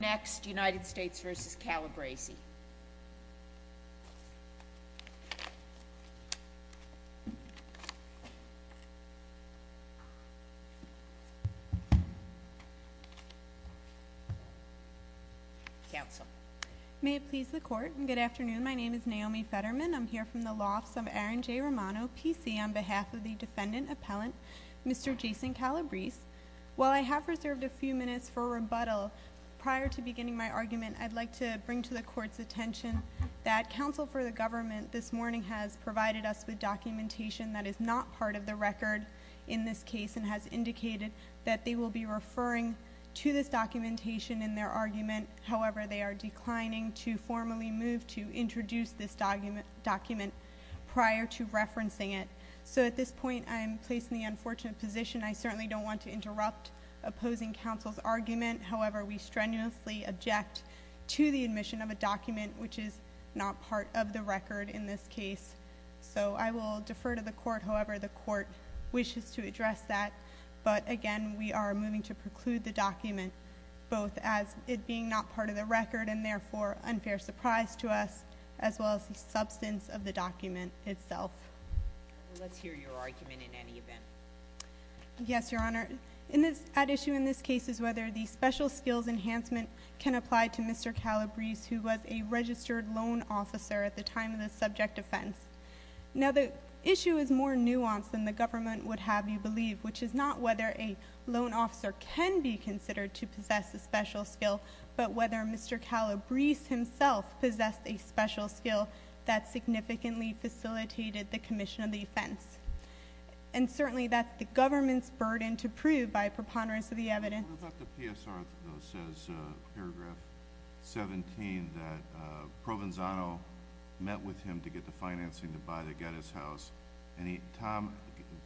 next united states v. Calabrese may it please the court good afternoon my name is Naomi Fetterman I'm here from the lofts of Aaron J. Romano PC on behalf of the defendant appellant Mr. Jason Calabrese while I have reserved a few minutes for rebuttal prior to beginning my argument I'd like to bring to the court's attention that counsel for the government this morning has provided us with documentation that is not part of the record in this case and has indicated that they will be referring to this documentation in their argument however they are declining to formally move to introduce this document prior to referencing it so at this point I'm placed in the unfortunate position I certainly don't want to interrupt opposing counsel's argument however we strenuously object to the admission of a document which is not part of the record in this case so I will defer to the court however the court wishes to address that but again we are moving to preclude the document both as it being not part of the record and therefore unfair surprise to us as well as the substance of the document itself let's hear your argument in any event yes your honor the issue in this case is whether the special skills enhancement can apply to Mr. Calabrese who was a registered loan officer at the time of the subject offense now the issue is more nuanced than the government would have you believe which is not whether a loan officer can be considered to possess a special skill but whether Mr. Calabrese himself possessed a special skill that significantly facilitated the commission of the offense and certainly that's the government's burden to prove by preponderance of the evidence what about the PSR though says paragraph 17 that Provenzano met with him to get the financing to buy the Gettys house Tom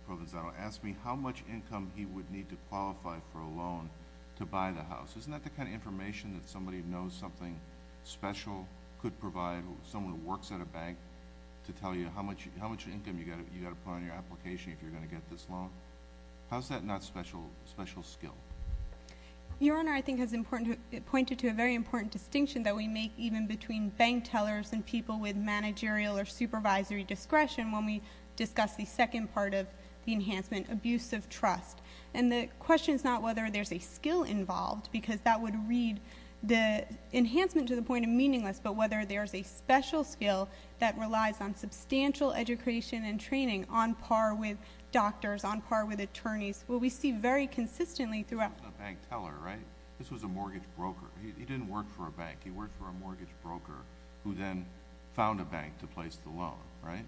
Provenzano asked me how much income he would need to qualify for a loan to buy the house isn't that the kind of information that somebody who knows something special could provide someone who works at a bank to tell you how much income you've got to put on your application if you're going to get this loan how's that not special skill your honor I think has pointed to a very important distinction that we make even between bank tellers and people with managerial or supervisory discretion when we discuss the second part of the enhancement abusive trust and the question is not whether there's a skill involved because that would read the enhancement to the point of meaningless but whether there's a special skill that relies on substantial education and training on par with doctors on par with attorneys what we see very consistently throughout a bank teller right this was a mortgage broker he didn't work for a bank he worked for a mortgage broker who then found a bank to place the loan right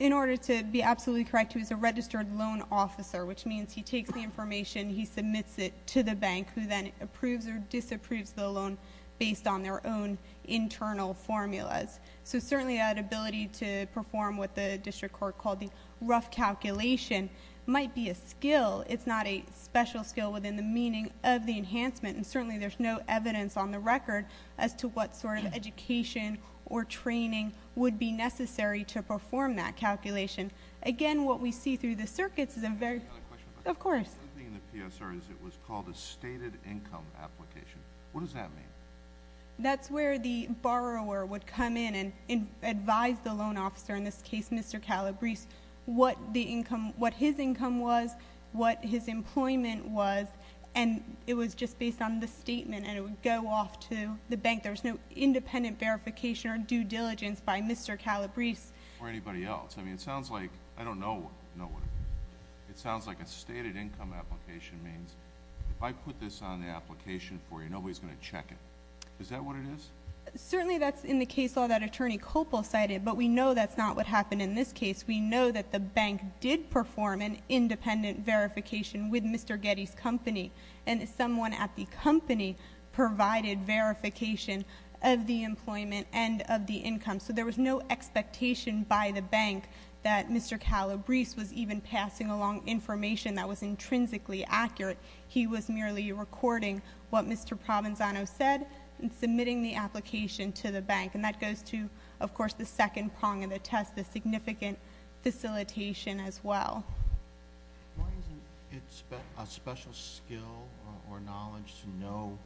in order to be absolutely correct he was a registered loan officer which means he takes the information he submits it to the bank who then approves or disapproves the loan based on their own internal formulas so certainly that ability to perform what the district court called the rough calculation might be a skill it's not a special skill within the meaning of the enhancement and certainly there's no evidence on the record as to what sort of education or training would be necessary to perform that calculation again what we see through the circuits is a very it was called a stated income application what does that mean that's where the borrower would come in and advise the loan officer in this case Mr. Calabrese what the income what his income was what his employment was and it was just based on the statement and it would go off to the bank there was no independent verification or due diligence by Mr. Calabrese or anybody else I mean it sounds like I don't know it sounds like a stated income application means if I put this on the circuit is that what it is certainly that's in the case law that attorney Copel cited but we know that's not what happened in this case we know that the bank did perform an independent verification with Mr. Getty's company and someone at the company provided verification of the employment and of the income so there was no expectation by the bank that Mr. Calabrese was even passing along information that was intrinsically accurate he was merely recording what Mr. Provenzano said and submitting the application to the bank and that goes to of course the second prong of the test the significant facilitation as well why isn't it a special skill or knowledge to know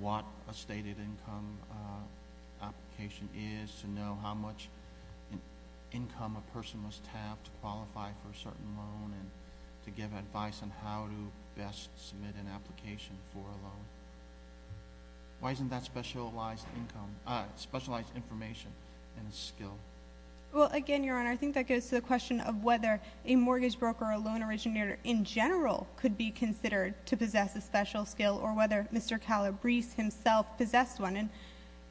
what a stated income application is to know how much income a person must have to qualify for a certain loan and to give advice on how to best submit an application for a loan why isn't that specialized information and a skill well again your honor I think that goes to the question of whether a mortgage broker or loan originator in general could be considered to possess a special skill or whether Mr. Calabrese himself possessed one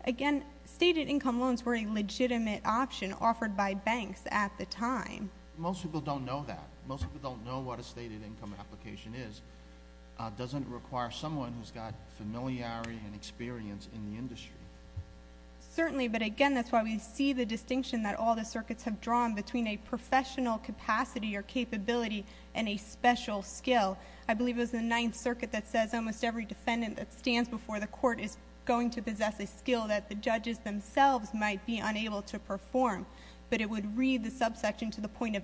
again stated income loans were a legitimate option offered by banks at the time most people don't know that most people don't know what a stated income application is doesn't require someone who's got familiarity and experience in the industry certainly but again that's why we see the distinction that all the circuits have drawn between a professional capacity or capability and a special skill I believe it was the ninth circuit that says almost every defendant that stands before the court is going to possess a skill that the judges themselves might be unable to perform but it would read the subsection to the point of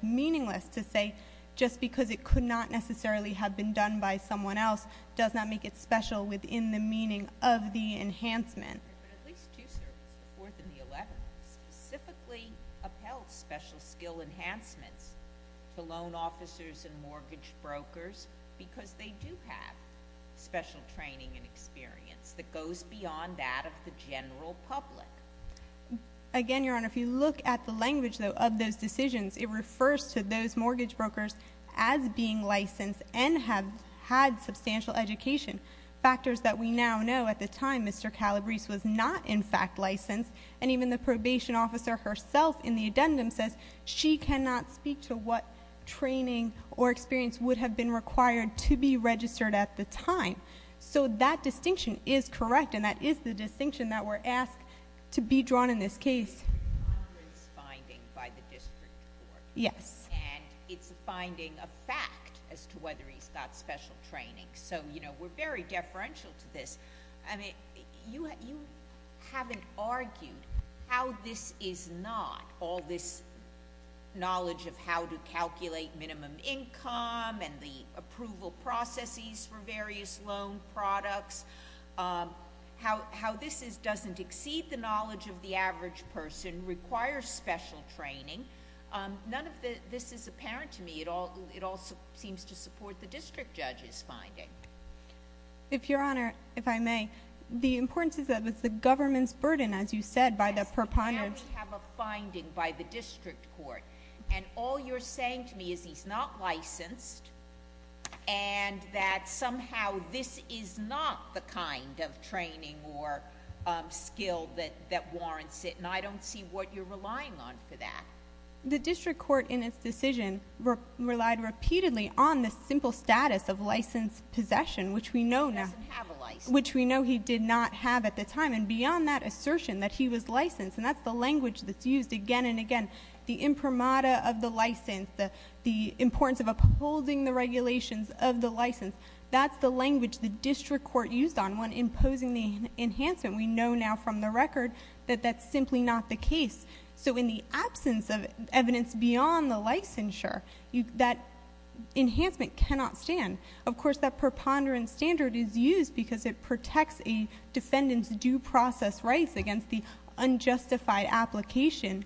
it could not necessarily have been done by someone else does not make it special within the meaning of the enhancement specifically upheld special skill enhancements to loan officers and mortgage brokers because they do have special training and experience that goes beyond that of the general public again your honor if you look at the language of those decisions it refers to those mortgage brokers as being licensed and have had substantial education factors that we now know at the time Mr. Calabrese was not in fact licensed and even the probation officer herself in the addendum says she cannot speak to what training or experience would have been required to be registered at the time so that distinction is correct and that is the distinction that we're asked to be drawn in this case yes it's a finding of fact as to whether he's got special training so you know we're very deferential to this you haven't argued how this is not all this knowledge of how to calculate minimum income and the approval processes for various loan products how this is doesn't exceed the knowledge of the average person requires special training none of this is apparent to me it all seems to support the district judge's finding if your honor if I may the importance is that it's the government's burden as you said by the proponent now we have a finding by the district court and all you're saying to me is he's not licensed and that somehow this is not the kind of training or skill that warrants it and I don't see what you're relying on for that the district court in its decision relied repeatedly on the simple status of license possession which we know he did not have at the time and beyond that assertion that he was licensed and that's the language that's used again and again the imprimatur of the license the importance of upholding the regulations of the license that's the language the district court used on when imposing the enhancement we know now from the record that that's simply not the case so in the absence of evidence beyond the licensure that enhancement cannot stand of course that preponderance standard is used because it protects a defendant's due process rights against the unjustified application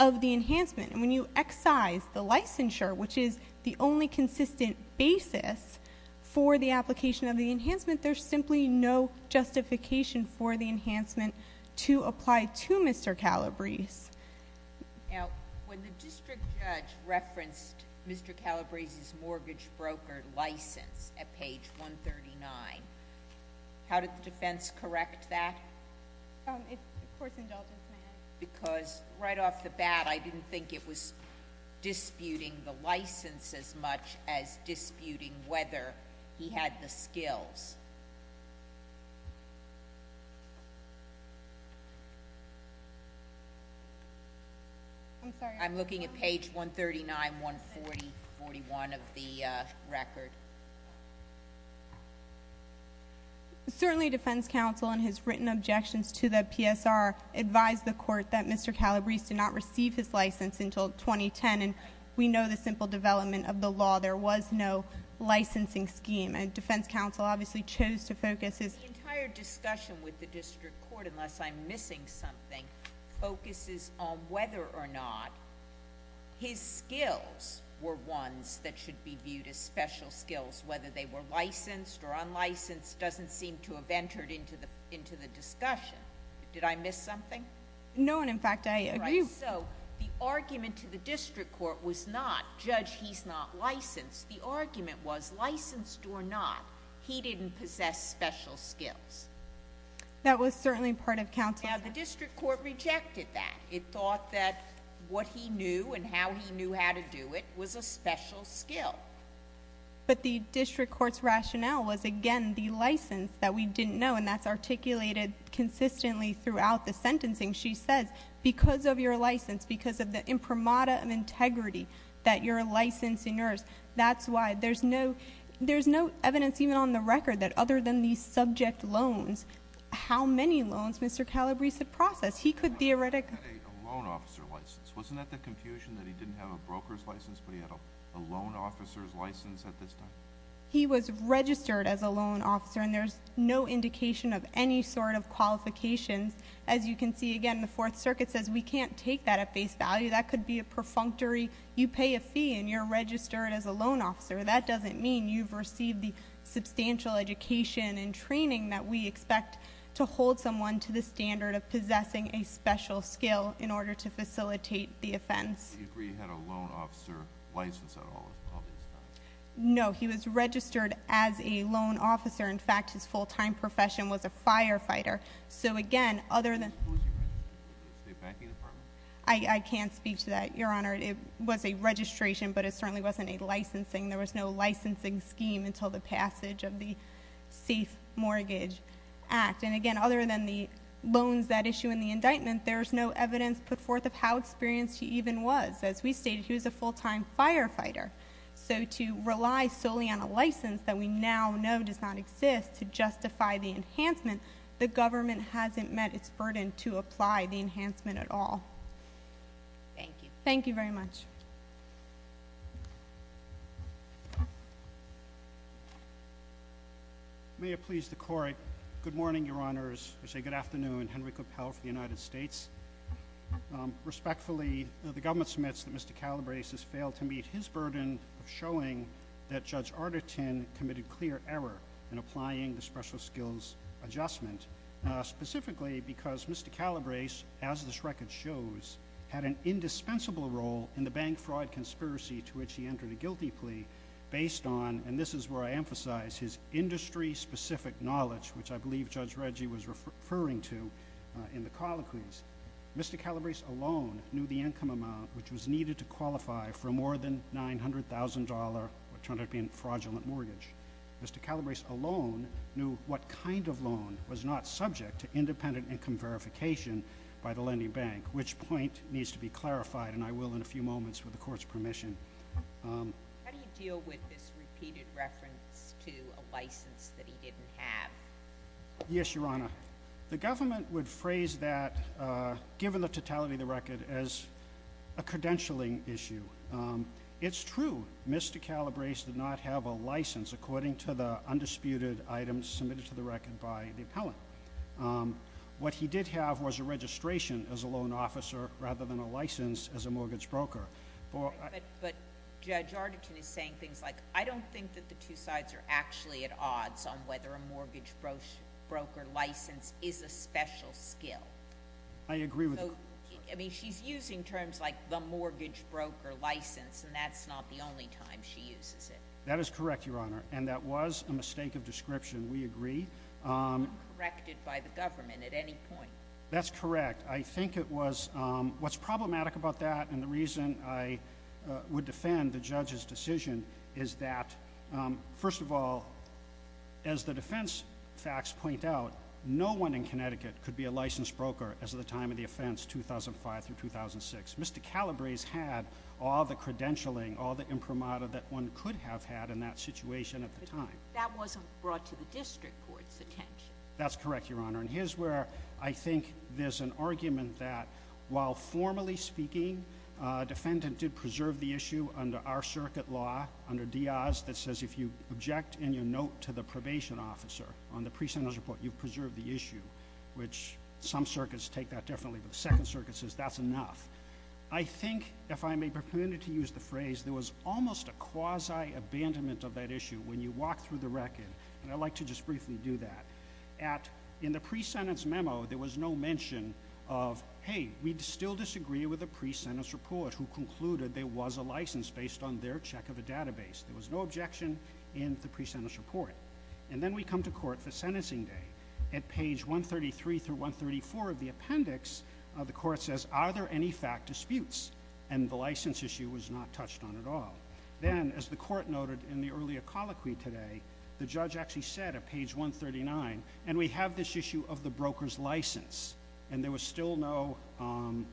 of the enhancement and when you excise the licensure which is the only consistent basis for the application of the enhancement there's simply no justification for the enhancement to apply to Mr. Calabrese Now when the district judge referenced Mr. Calabrese's mortgage broker license at page 139 how did the defense correct that? Because right off the bat I didn't think it was disputing the license as much as it had the skills I'm looking at page 139, 140 41 of the record Certainly defense counsel in his written objections to the PSR advised the court that Mr. Calabrese did not receive his license until 2010 and we know the simple development of the law there was no licensing scheme and defense counsel obviously chose to focus The entire discussion with the district court unless I'm missing something focuses on whether or not his skills were ones that should be viewed as special skills whether they were licensed or unlicensed doesn't seem to have entered into the discussion. Did I miss something? No and in fact I agree. So the argument to the district court was not judge he's not licensed. The argument was licensed or not he didn't possess special skills Now the district court rejected that. It thought that what he knew and how he knew how to do it was a special skill But the district court's rationale was again the license that we didn't know and that's articulated consistently throughout the sentencing. She says because of your license, because of the premada of integrity that you're a licensed nurse, that's why there's no evidence even on the record that other than the subject loans. How many loans Mr. Calabrese had processed? He could theoretically. He had a loan officer license. Wasn't that the confusion that he didn't have a broker's license but he had a loan officer's license at this time? He was registered as a loan officer and there's no indication of any sort of qualifications. As you can see again the 4th circuit says we can't take that at face value. That could be a perfunctory. You pay a fee and you're registered as a loan officer. That doesn't mean you've received the substantial education and training that we expect to hold someone to the standard of possessing a special skill in order to facilitate the offense. Do you agree he had a loan officer license at all of this time? No. He was registered as a loan officer In fact his full time profession was a firefighter. So again Who was he registered with? The State Packing Department? I can't speak to that Your Honor. It was a registration but it certainly wasn't a licensing. There was no licensing scheme until the passage of the Safe Mortgage Act. And again other than the loans that issue in the indictment there's no evidence put forth of how experienced he even was. As we stated he was a full time firefighter. So to rely solely on a license that we now know does not exist to justify the it's burden to apply the enhancement at all. Thank you. Thank you very much. May it please the Court. Good morning Your Honors. I say good afternoon. Henry Coppell for the United States. Respectfully the government submits that Mr. Calabrese has failed to meet his burden of showing that Judge Arderton committed clear error in applying the special skills adjustment. Specifically because Mr. Calabrese as this record shows had an indispensable role in the bank fraud conspiracy to which he entered a guilty plea based on and this is where I emphasize his industry specific knowledge which I believe Judge Reggie was referring to in the colloquies. Mr. Calabrese alone knew the income amount which was needed to qualify for more than $900,000 what turned out to be a fraudulent mortgage. Mr. Calabrese alone knew what kind of loan was not subject to independent income verification by the lending bank which point needs to be clarified and I will in a few moments with the Court's permission. How do you deal with this repeated reference to a license that he didn't have? Yes Your Honor. The government would phrase that given the totality of the record as a credentialing issue. It's true Mr. Calabrese did not have a license according to the undisputed items submitted to the record by the appellant. What he did have was a registration as a loan officer rather than a license as a mortgage broker. Judge Arderton is saying things like I don't think that the two sides are actually at odds on whether a mortgage broker license is a special skill. I agree with her. She's using terms like the mortgage broker license and that's not the only time she uses it. That is correct Your Honor and that was a mistake of description. We agree. It's not corrected by the government at any point. That's correct. I think it was. What's problematic about that and the reason I would defend the judge's decision is that first of all as the defense facts point out no one in Connecticut could be a licensed broker as of the time of the offense 2005 through 2006. Mr. Calabrese had all the credentialing, all the imprimatur that one could have had in that situation at the time. That wasn't brought to the district court's attention. That's correct Your Honor and here's where I think there's an argument that while formally speaking a defendant did preserve the issue under our circuit law under Diaz that says if you object in your note to the probation officer on the pre-sentence report you've preserved the issue which some circuits take that differently but the second circuit says that's enough. I think if I may be permitted to use the phrase there was almost a quasi abandonment of that issue when you walk through the record and I'd like to just briefly do that. At in the pre-sentence memo there was no mention of hey we still disagree with the pre-sentence report who concluded there was a license based on their check of a database. There was no objection in the pre-sentence report and then we come to court for sentencing day. At page 133 through 134 of the appendix the court says are there any fact disputes and the license issue was not touched on at all. Then as the court noted in the earlier colloquy today the judge actually said at page 139 and we have this issue of the broker's license and there was still no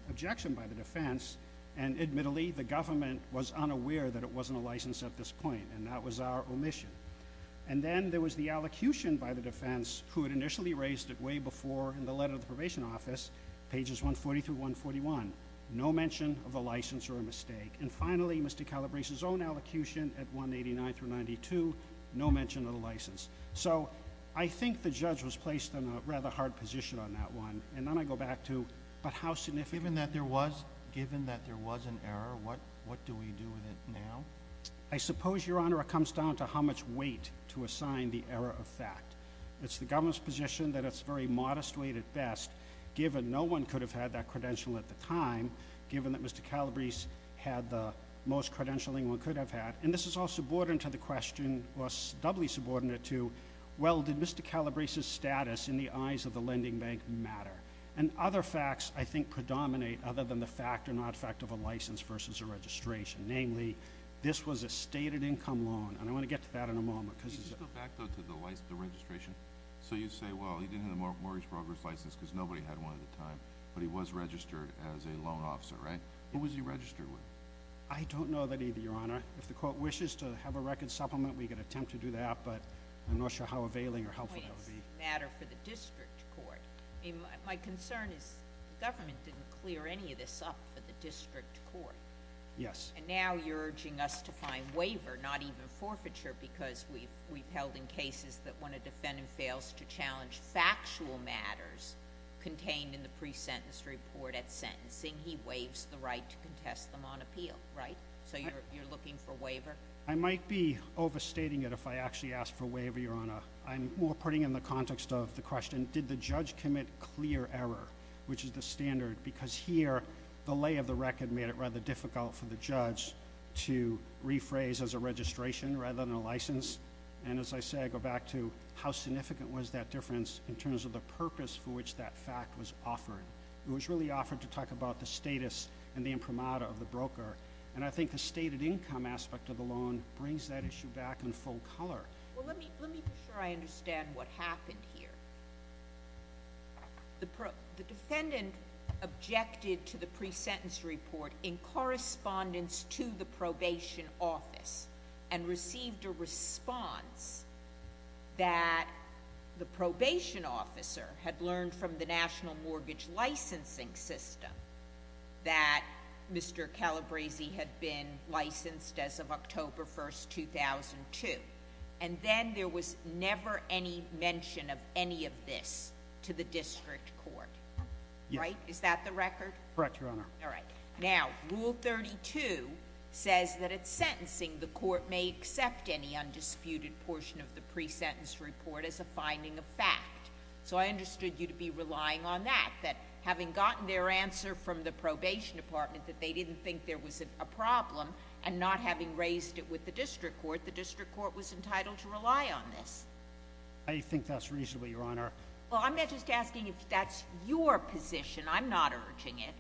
objection by the defense and admittedly the government was unaware that it wasn't a license at this point and that was our omission. And then there was the allocution by the defense who had initially raised it way before in the letter of the probation office pages 140 through 141. No mention of the license or a mistake. And finally Mr. Calabrese's own allocution at 189 through 92 no mention of the license. So I think the judge was placed in a rather hard position on that one and then I go back to but how significant. Given that there was an error what do we do with it now? I suppose your honor it comes down to how much weight to assign the error of fact. It's the government's position that it's very modest weight at best given no one could have had that credential at the time, given that Mr. Calabrese had the most credentialing one could have had and this is all subordinate to the question or doubly subordinate to well did Mr. Calabrese's status in the eyes of the lending bank matter? And other facts I think predominate other than the fact or not fact of a license versus a registration namely this was a stated income loan and I want to get to that in a moment Can you go back though to the registration? So you say well he didn't have a mortgage broker's license because nobody had one at the time but he was registered as a loan officer right? Who was he registered with? I don't know that either your honor if the court wishes to have a record supplement we could attempt to do that but I'm not sure how availing or helpful that would be. It's a matter for the district court my concern is the government didn't clear any of this up for the district court. Yes. And now you're urging us to find waiver not even forfeiture because we've held in cases that when a defendant fails to challenge factual matters contained in the pre-sentence report at sentencing he waives the right to contest them on appeal right? So you're looking for waiver? I might be overstating it if I actually ask for waiver your honor. I'm more putting in the context of the question did the judge commit clear error which is the standard because here the lay of the record made it rather difficult for the judge to rephrase as a registration rather than a license and as I say I go back to how significant was that difference in terms of the purpose for which that fact was offered. It was really offered to talk about the status and the imprimatur of the broker and I think the stated income aspect of the loan brings that issue back in full color. Well let me make sure I understand what happened here. The defendant objected to the pre-sentence report in correspondence to the probation office and received a response that the probation officer had learned from the National Mortgage Licensing System that Mr. Calabresi had been licensed as of October 1, 2002 and then there was never any mention of any of this to the district court right? Is that the record? Correct Your Honor. Now rule 32 says that at sentencing the court may accept any undisputed portion of the pre-sentence report as a finding of fact. So I understood you to be relying on that. That having gotten their answer from the probation department that they didn't think there was a problem and not having raised it with the district court, the district court was entitled to rely on this. I think that's reasonable Your Honor. Well I'm not just asking if that's your position. I'm not urging it.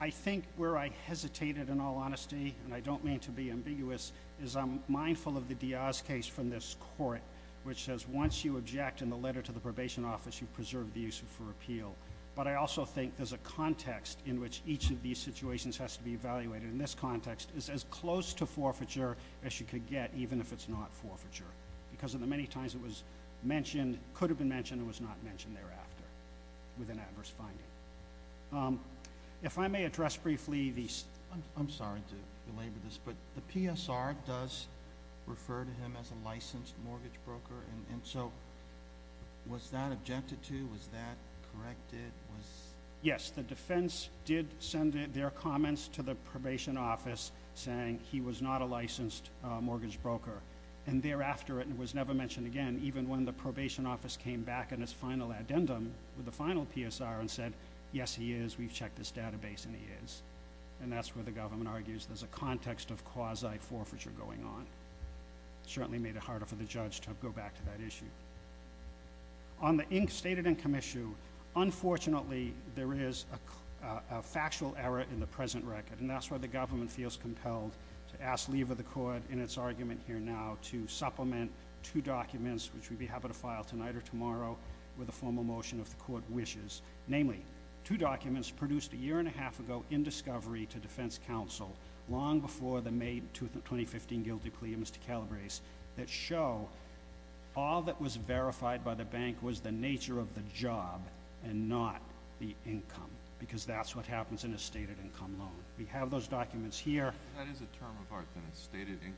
I think where I hesitated in all honesty, and I don't mean to be ambiguous, is I'm mindful of the Diaz case from this court which says once you object in the letter to the probation office you've preserved the use of it for appeal. But I also think there's a context in which each of these situations has to be evaluated. In this context it's as close to forfeiture as you could get even if it's not forfeiture because of the many times it was mentioned, could have been mentioned, it was not mentioned thereafter with an adverse finding. If I may address briefly the... I'm sorry to belabor this but the PSR does refer to him as a licensed mortgage broker and so was that objected to? Was that corrected? Yes, the defense did send their comments to the probation office saying he was not a licensed mortgage broker and thereafter it was never mentioned again even when the plaintiff made an addendum with the final PSR and said yes he is, we've checked this database and he is. And that's where the government argues there's a context of quasi forfeiture going on. It certainly made it harder for the judge to go back to that issue. On the stated income issue unfortunately there is a factual error in the present record and that's why the government feels compelled to ask leave of the court in its argument here now to supplement two documents which we'd be happy to see if the motion of the court wishes, namely two documents produced a year and a half ago in discovery to defense counsel long before the May 2015 guilty plea of Mr. Calabrese that show all that was verified by the bank was the nature of the job and not the income because that's what happens in a stated income loan. We have those documents here. That is a term of art then, a stated income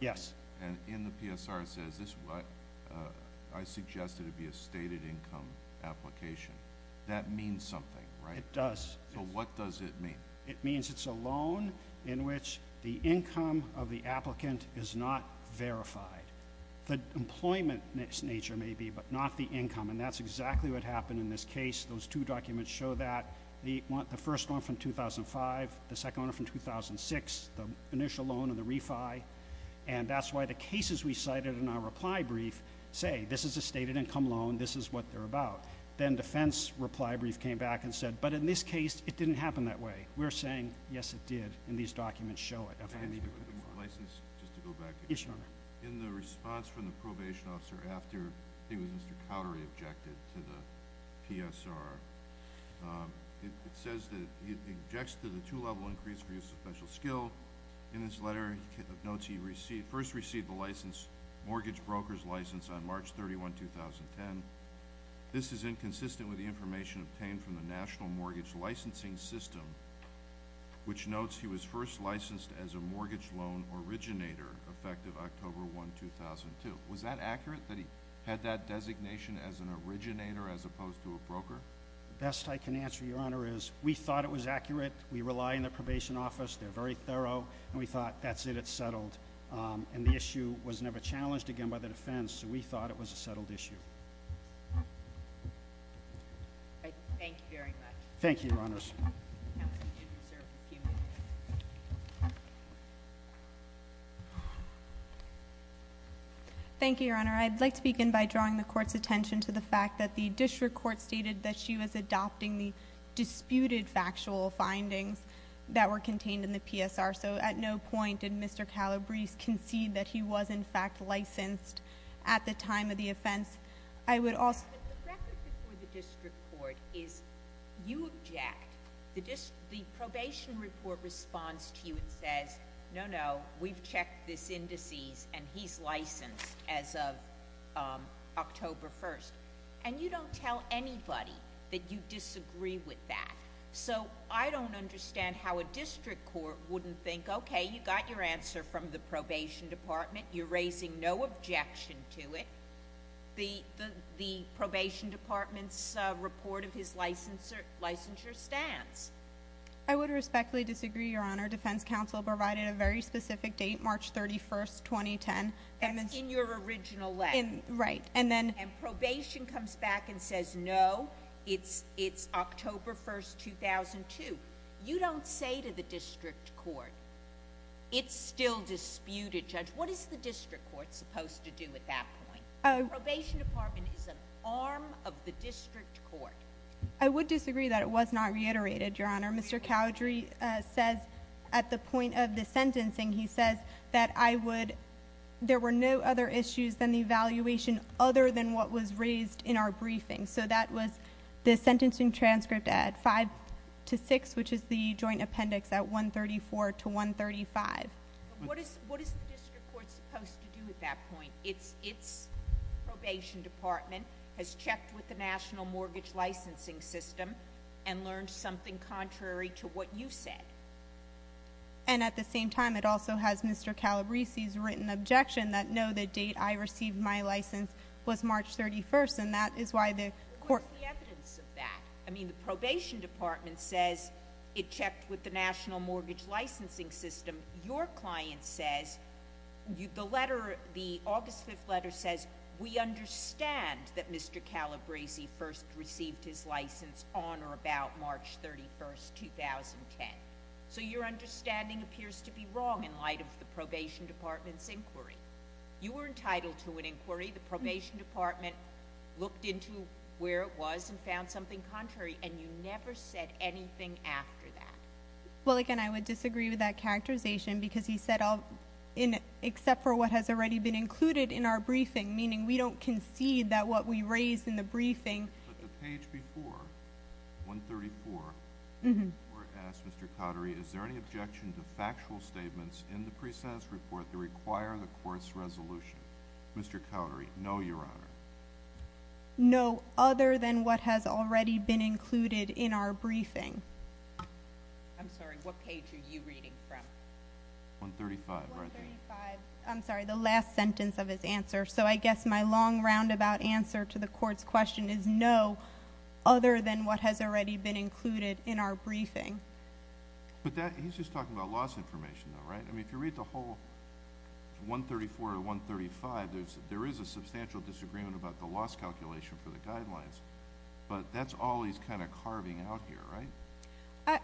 Yes. And in the PSR it says I suggested it be a stated income application. That means something, right? It does. So what does it mean? It means it's a loan in which the income of the applicant is not verified. The employment nature may be but not the income and that's exactly what happened in this case. Those two documents show that the first one from 2005, the second one from 2006 the initial loan and the refi and that's why the cases we cited in our reply brief say this is a stated income loan, this is what they're about. Then defense reply brief came back and said but in this case it didn't happen that way. We're saying yes it did and these documents show it. In the response from the probation officer after it was Mr. Cowdery objected to the PSR, it says that he objects to the two level increase for use of special skill. In his letter he notes he first received the mortgage broker's license on March 31, 2010. This is inconsistent with the information obtained from the National Mortgage Licensing System which notes he was first licensed as a mortgage loan originator effective October 1, 2002. Was that accurate that he had that designation as an originator as opposed to a broker? The best I can answer, Your Honor, is we thought it was accurate. We rely on the probation office. They're very thorough and we thought that's it, it's settled. The issue was never challenged again by the defense so we thought it was a settled issue. Thank you very much. Thank you, Your Honors. Thank you, Your Honor. I'd like to begin by drawing the court's attention to the fact that the district court stated that she was adopting the disputed factual findings that were contained in the PSR so at no point did Mr. Calabrese concede that he was in fact licensed at the time of the offense. I would also... The record before the district court is you object. The probation report responds to you and says, no, no, we've checked this indices and he's licensed as of October 1st. And you don't tell anybody that you disagree with that. So I don't understand how a district court wouldn't think, okay, you got your answer from the probation department, you're raising no objection to it. The probation department's report of his licensure stands. I would respectfully disagree, Your Honor. Defense counsel provided a very specific date, March 31st, 2010. In your original letter. And probation comes back and says, no, it's October 1st, 2002. You don't say to the district court, it's still disputed, Judge. What is the district court supposed to do at that point? The probation department is an arm of the district court. I would disagree that it was not reiterated, Your Honor. Mr. Calabrese says at the point of the sentencing, he says that I would... have no evaluation other than what was raised in our briefing. So that was the sentencing transcript at 5-6, which is the joint appendix at 134-135. What is the district court supposed to do at that point? Its probation department has checked with the National Mortgage Licensing System and learned something contrary to what you said. And at the same time, it also has Mr. Calabrese's written objection that no, the date I received my license was March 31st and that is why the court... What is the evidence of that? I mean, the probation department says it checked with the National Mortgage Licensing System. Your client says, the letter, the August 5th letter says, we understand that Mr. Calabrese first received his license on or about March 31st, 2010. So your understanding appears to be wrong in light of the probation department's inquiry. You were entitled to an inquiry. The probation department looked into where it was and found something contrary and you never said anything after that. Well, again, I would disagree with that characterization because he said except for what has already been included in our briefing, meaning we don't concede that what we raised in the briefing... But the page before 134, the court asked Mr. Cottery, is there any objection to factual statements in the presence report that require the court's resolution? Mr. Cottery, no, Your Honor. No, other than what has already been included in our briefing. I'm sorry, what page are you reading from? 135, right there. 135, I'm sorry, the last sentence of his answer. So I guess my long roundabout answer to the court's question is no, other than what has already been included in our briefing. But he's just talking about loss information, though, right? I mean, if you read the whole 134 or 135, there is a substantial disagreement about the loss calculation for the guidelines, but that's all he's kind of carving out here, right?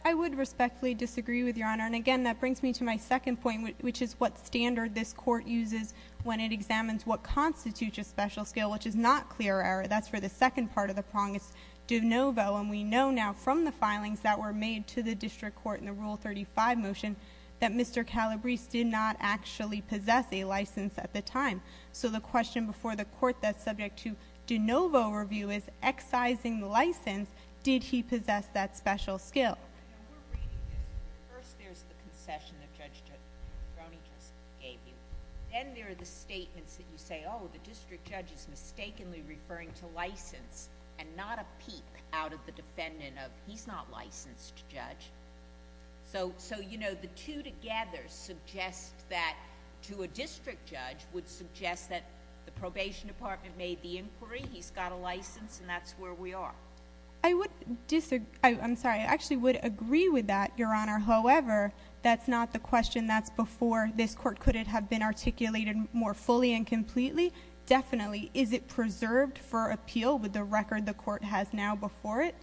I would respectfully disagree with Your Honor, and again, that brings me to my second point, which is what standard this court uses when it examines what constitutes a special skill, which is not clear error. That's for the second part of the prong. It's de novo, and we know now from the filings that were made to the district court in the Rule 35 motion that Mr. Calabrese did not actually possess a license at the time. So the question before the court that's subject to de novo review is, excising the license, did he possess that special skill? No, we're reading this. First, there's the concession that Judge Brony just gave you. Then there are the statements that you say, oh, the district judge is mistakenly referring to license and not a peep out of the defendant of he's not licensed to judge. So the two together suggest that to a district judge would suggest that the probation department made the inquiry, he's got a license, and that's where we are. I would disagree. I'm sorry. I actually would agree with that, Your Honor. However, that's not the question that's before this court. Could it have been articulated more fully and completely? Definitely. Is it the record the court has now before it?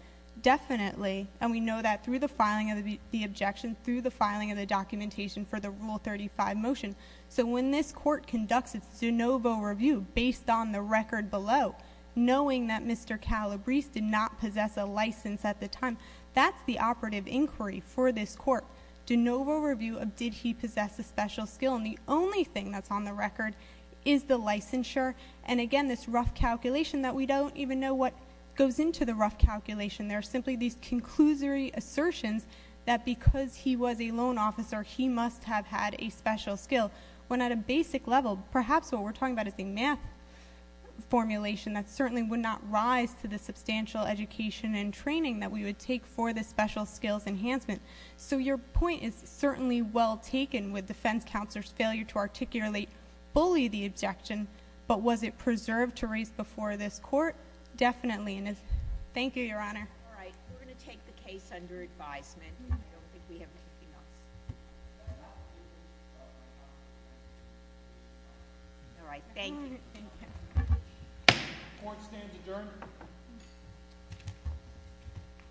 Definitely. And we know that through the filing of the objection, through the filing of the documentation for the Rule 35 motion. So when this court conducts its de novo review based on the record below, knowing that Mr. Calabrese did not possess a license at the time, that's the operative inquiry for this court. De novo review of did he possess a special skill. And the only thing that's on the record is the licensure. And again, this court goes into the rough calculation. There are simply these conclusory assertions that because he was a loan officer, he must have had a special skill. When at a basic level, perhaps what we're talking about is the math formulation that certainly would not rise to the substantial education and training that we would take for the special skills enhancement. So your point is certainly well taken with defense counselor's failure to articulate fully the objection. But was it preserved to raise before this court? Definitely. Thank you, Your Honor. All right. We're going to take the case under advisement. All right. Thank you. Court stands adjourned.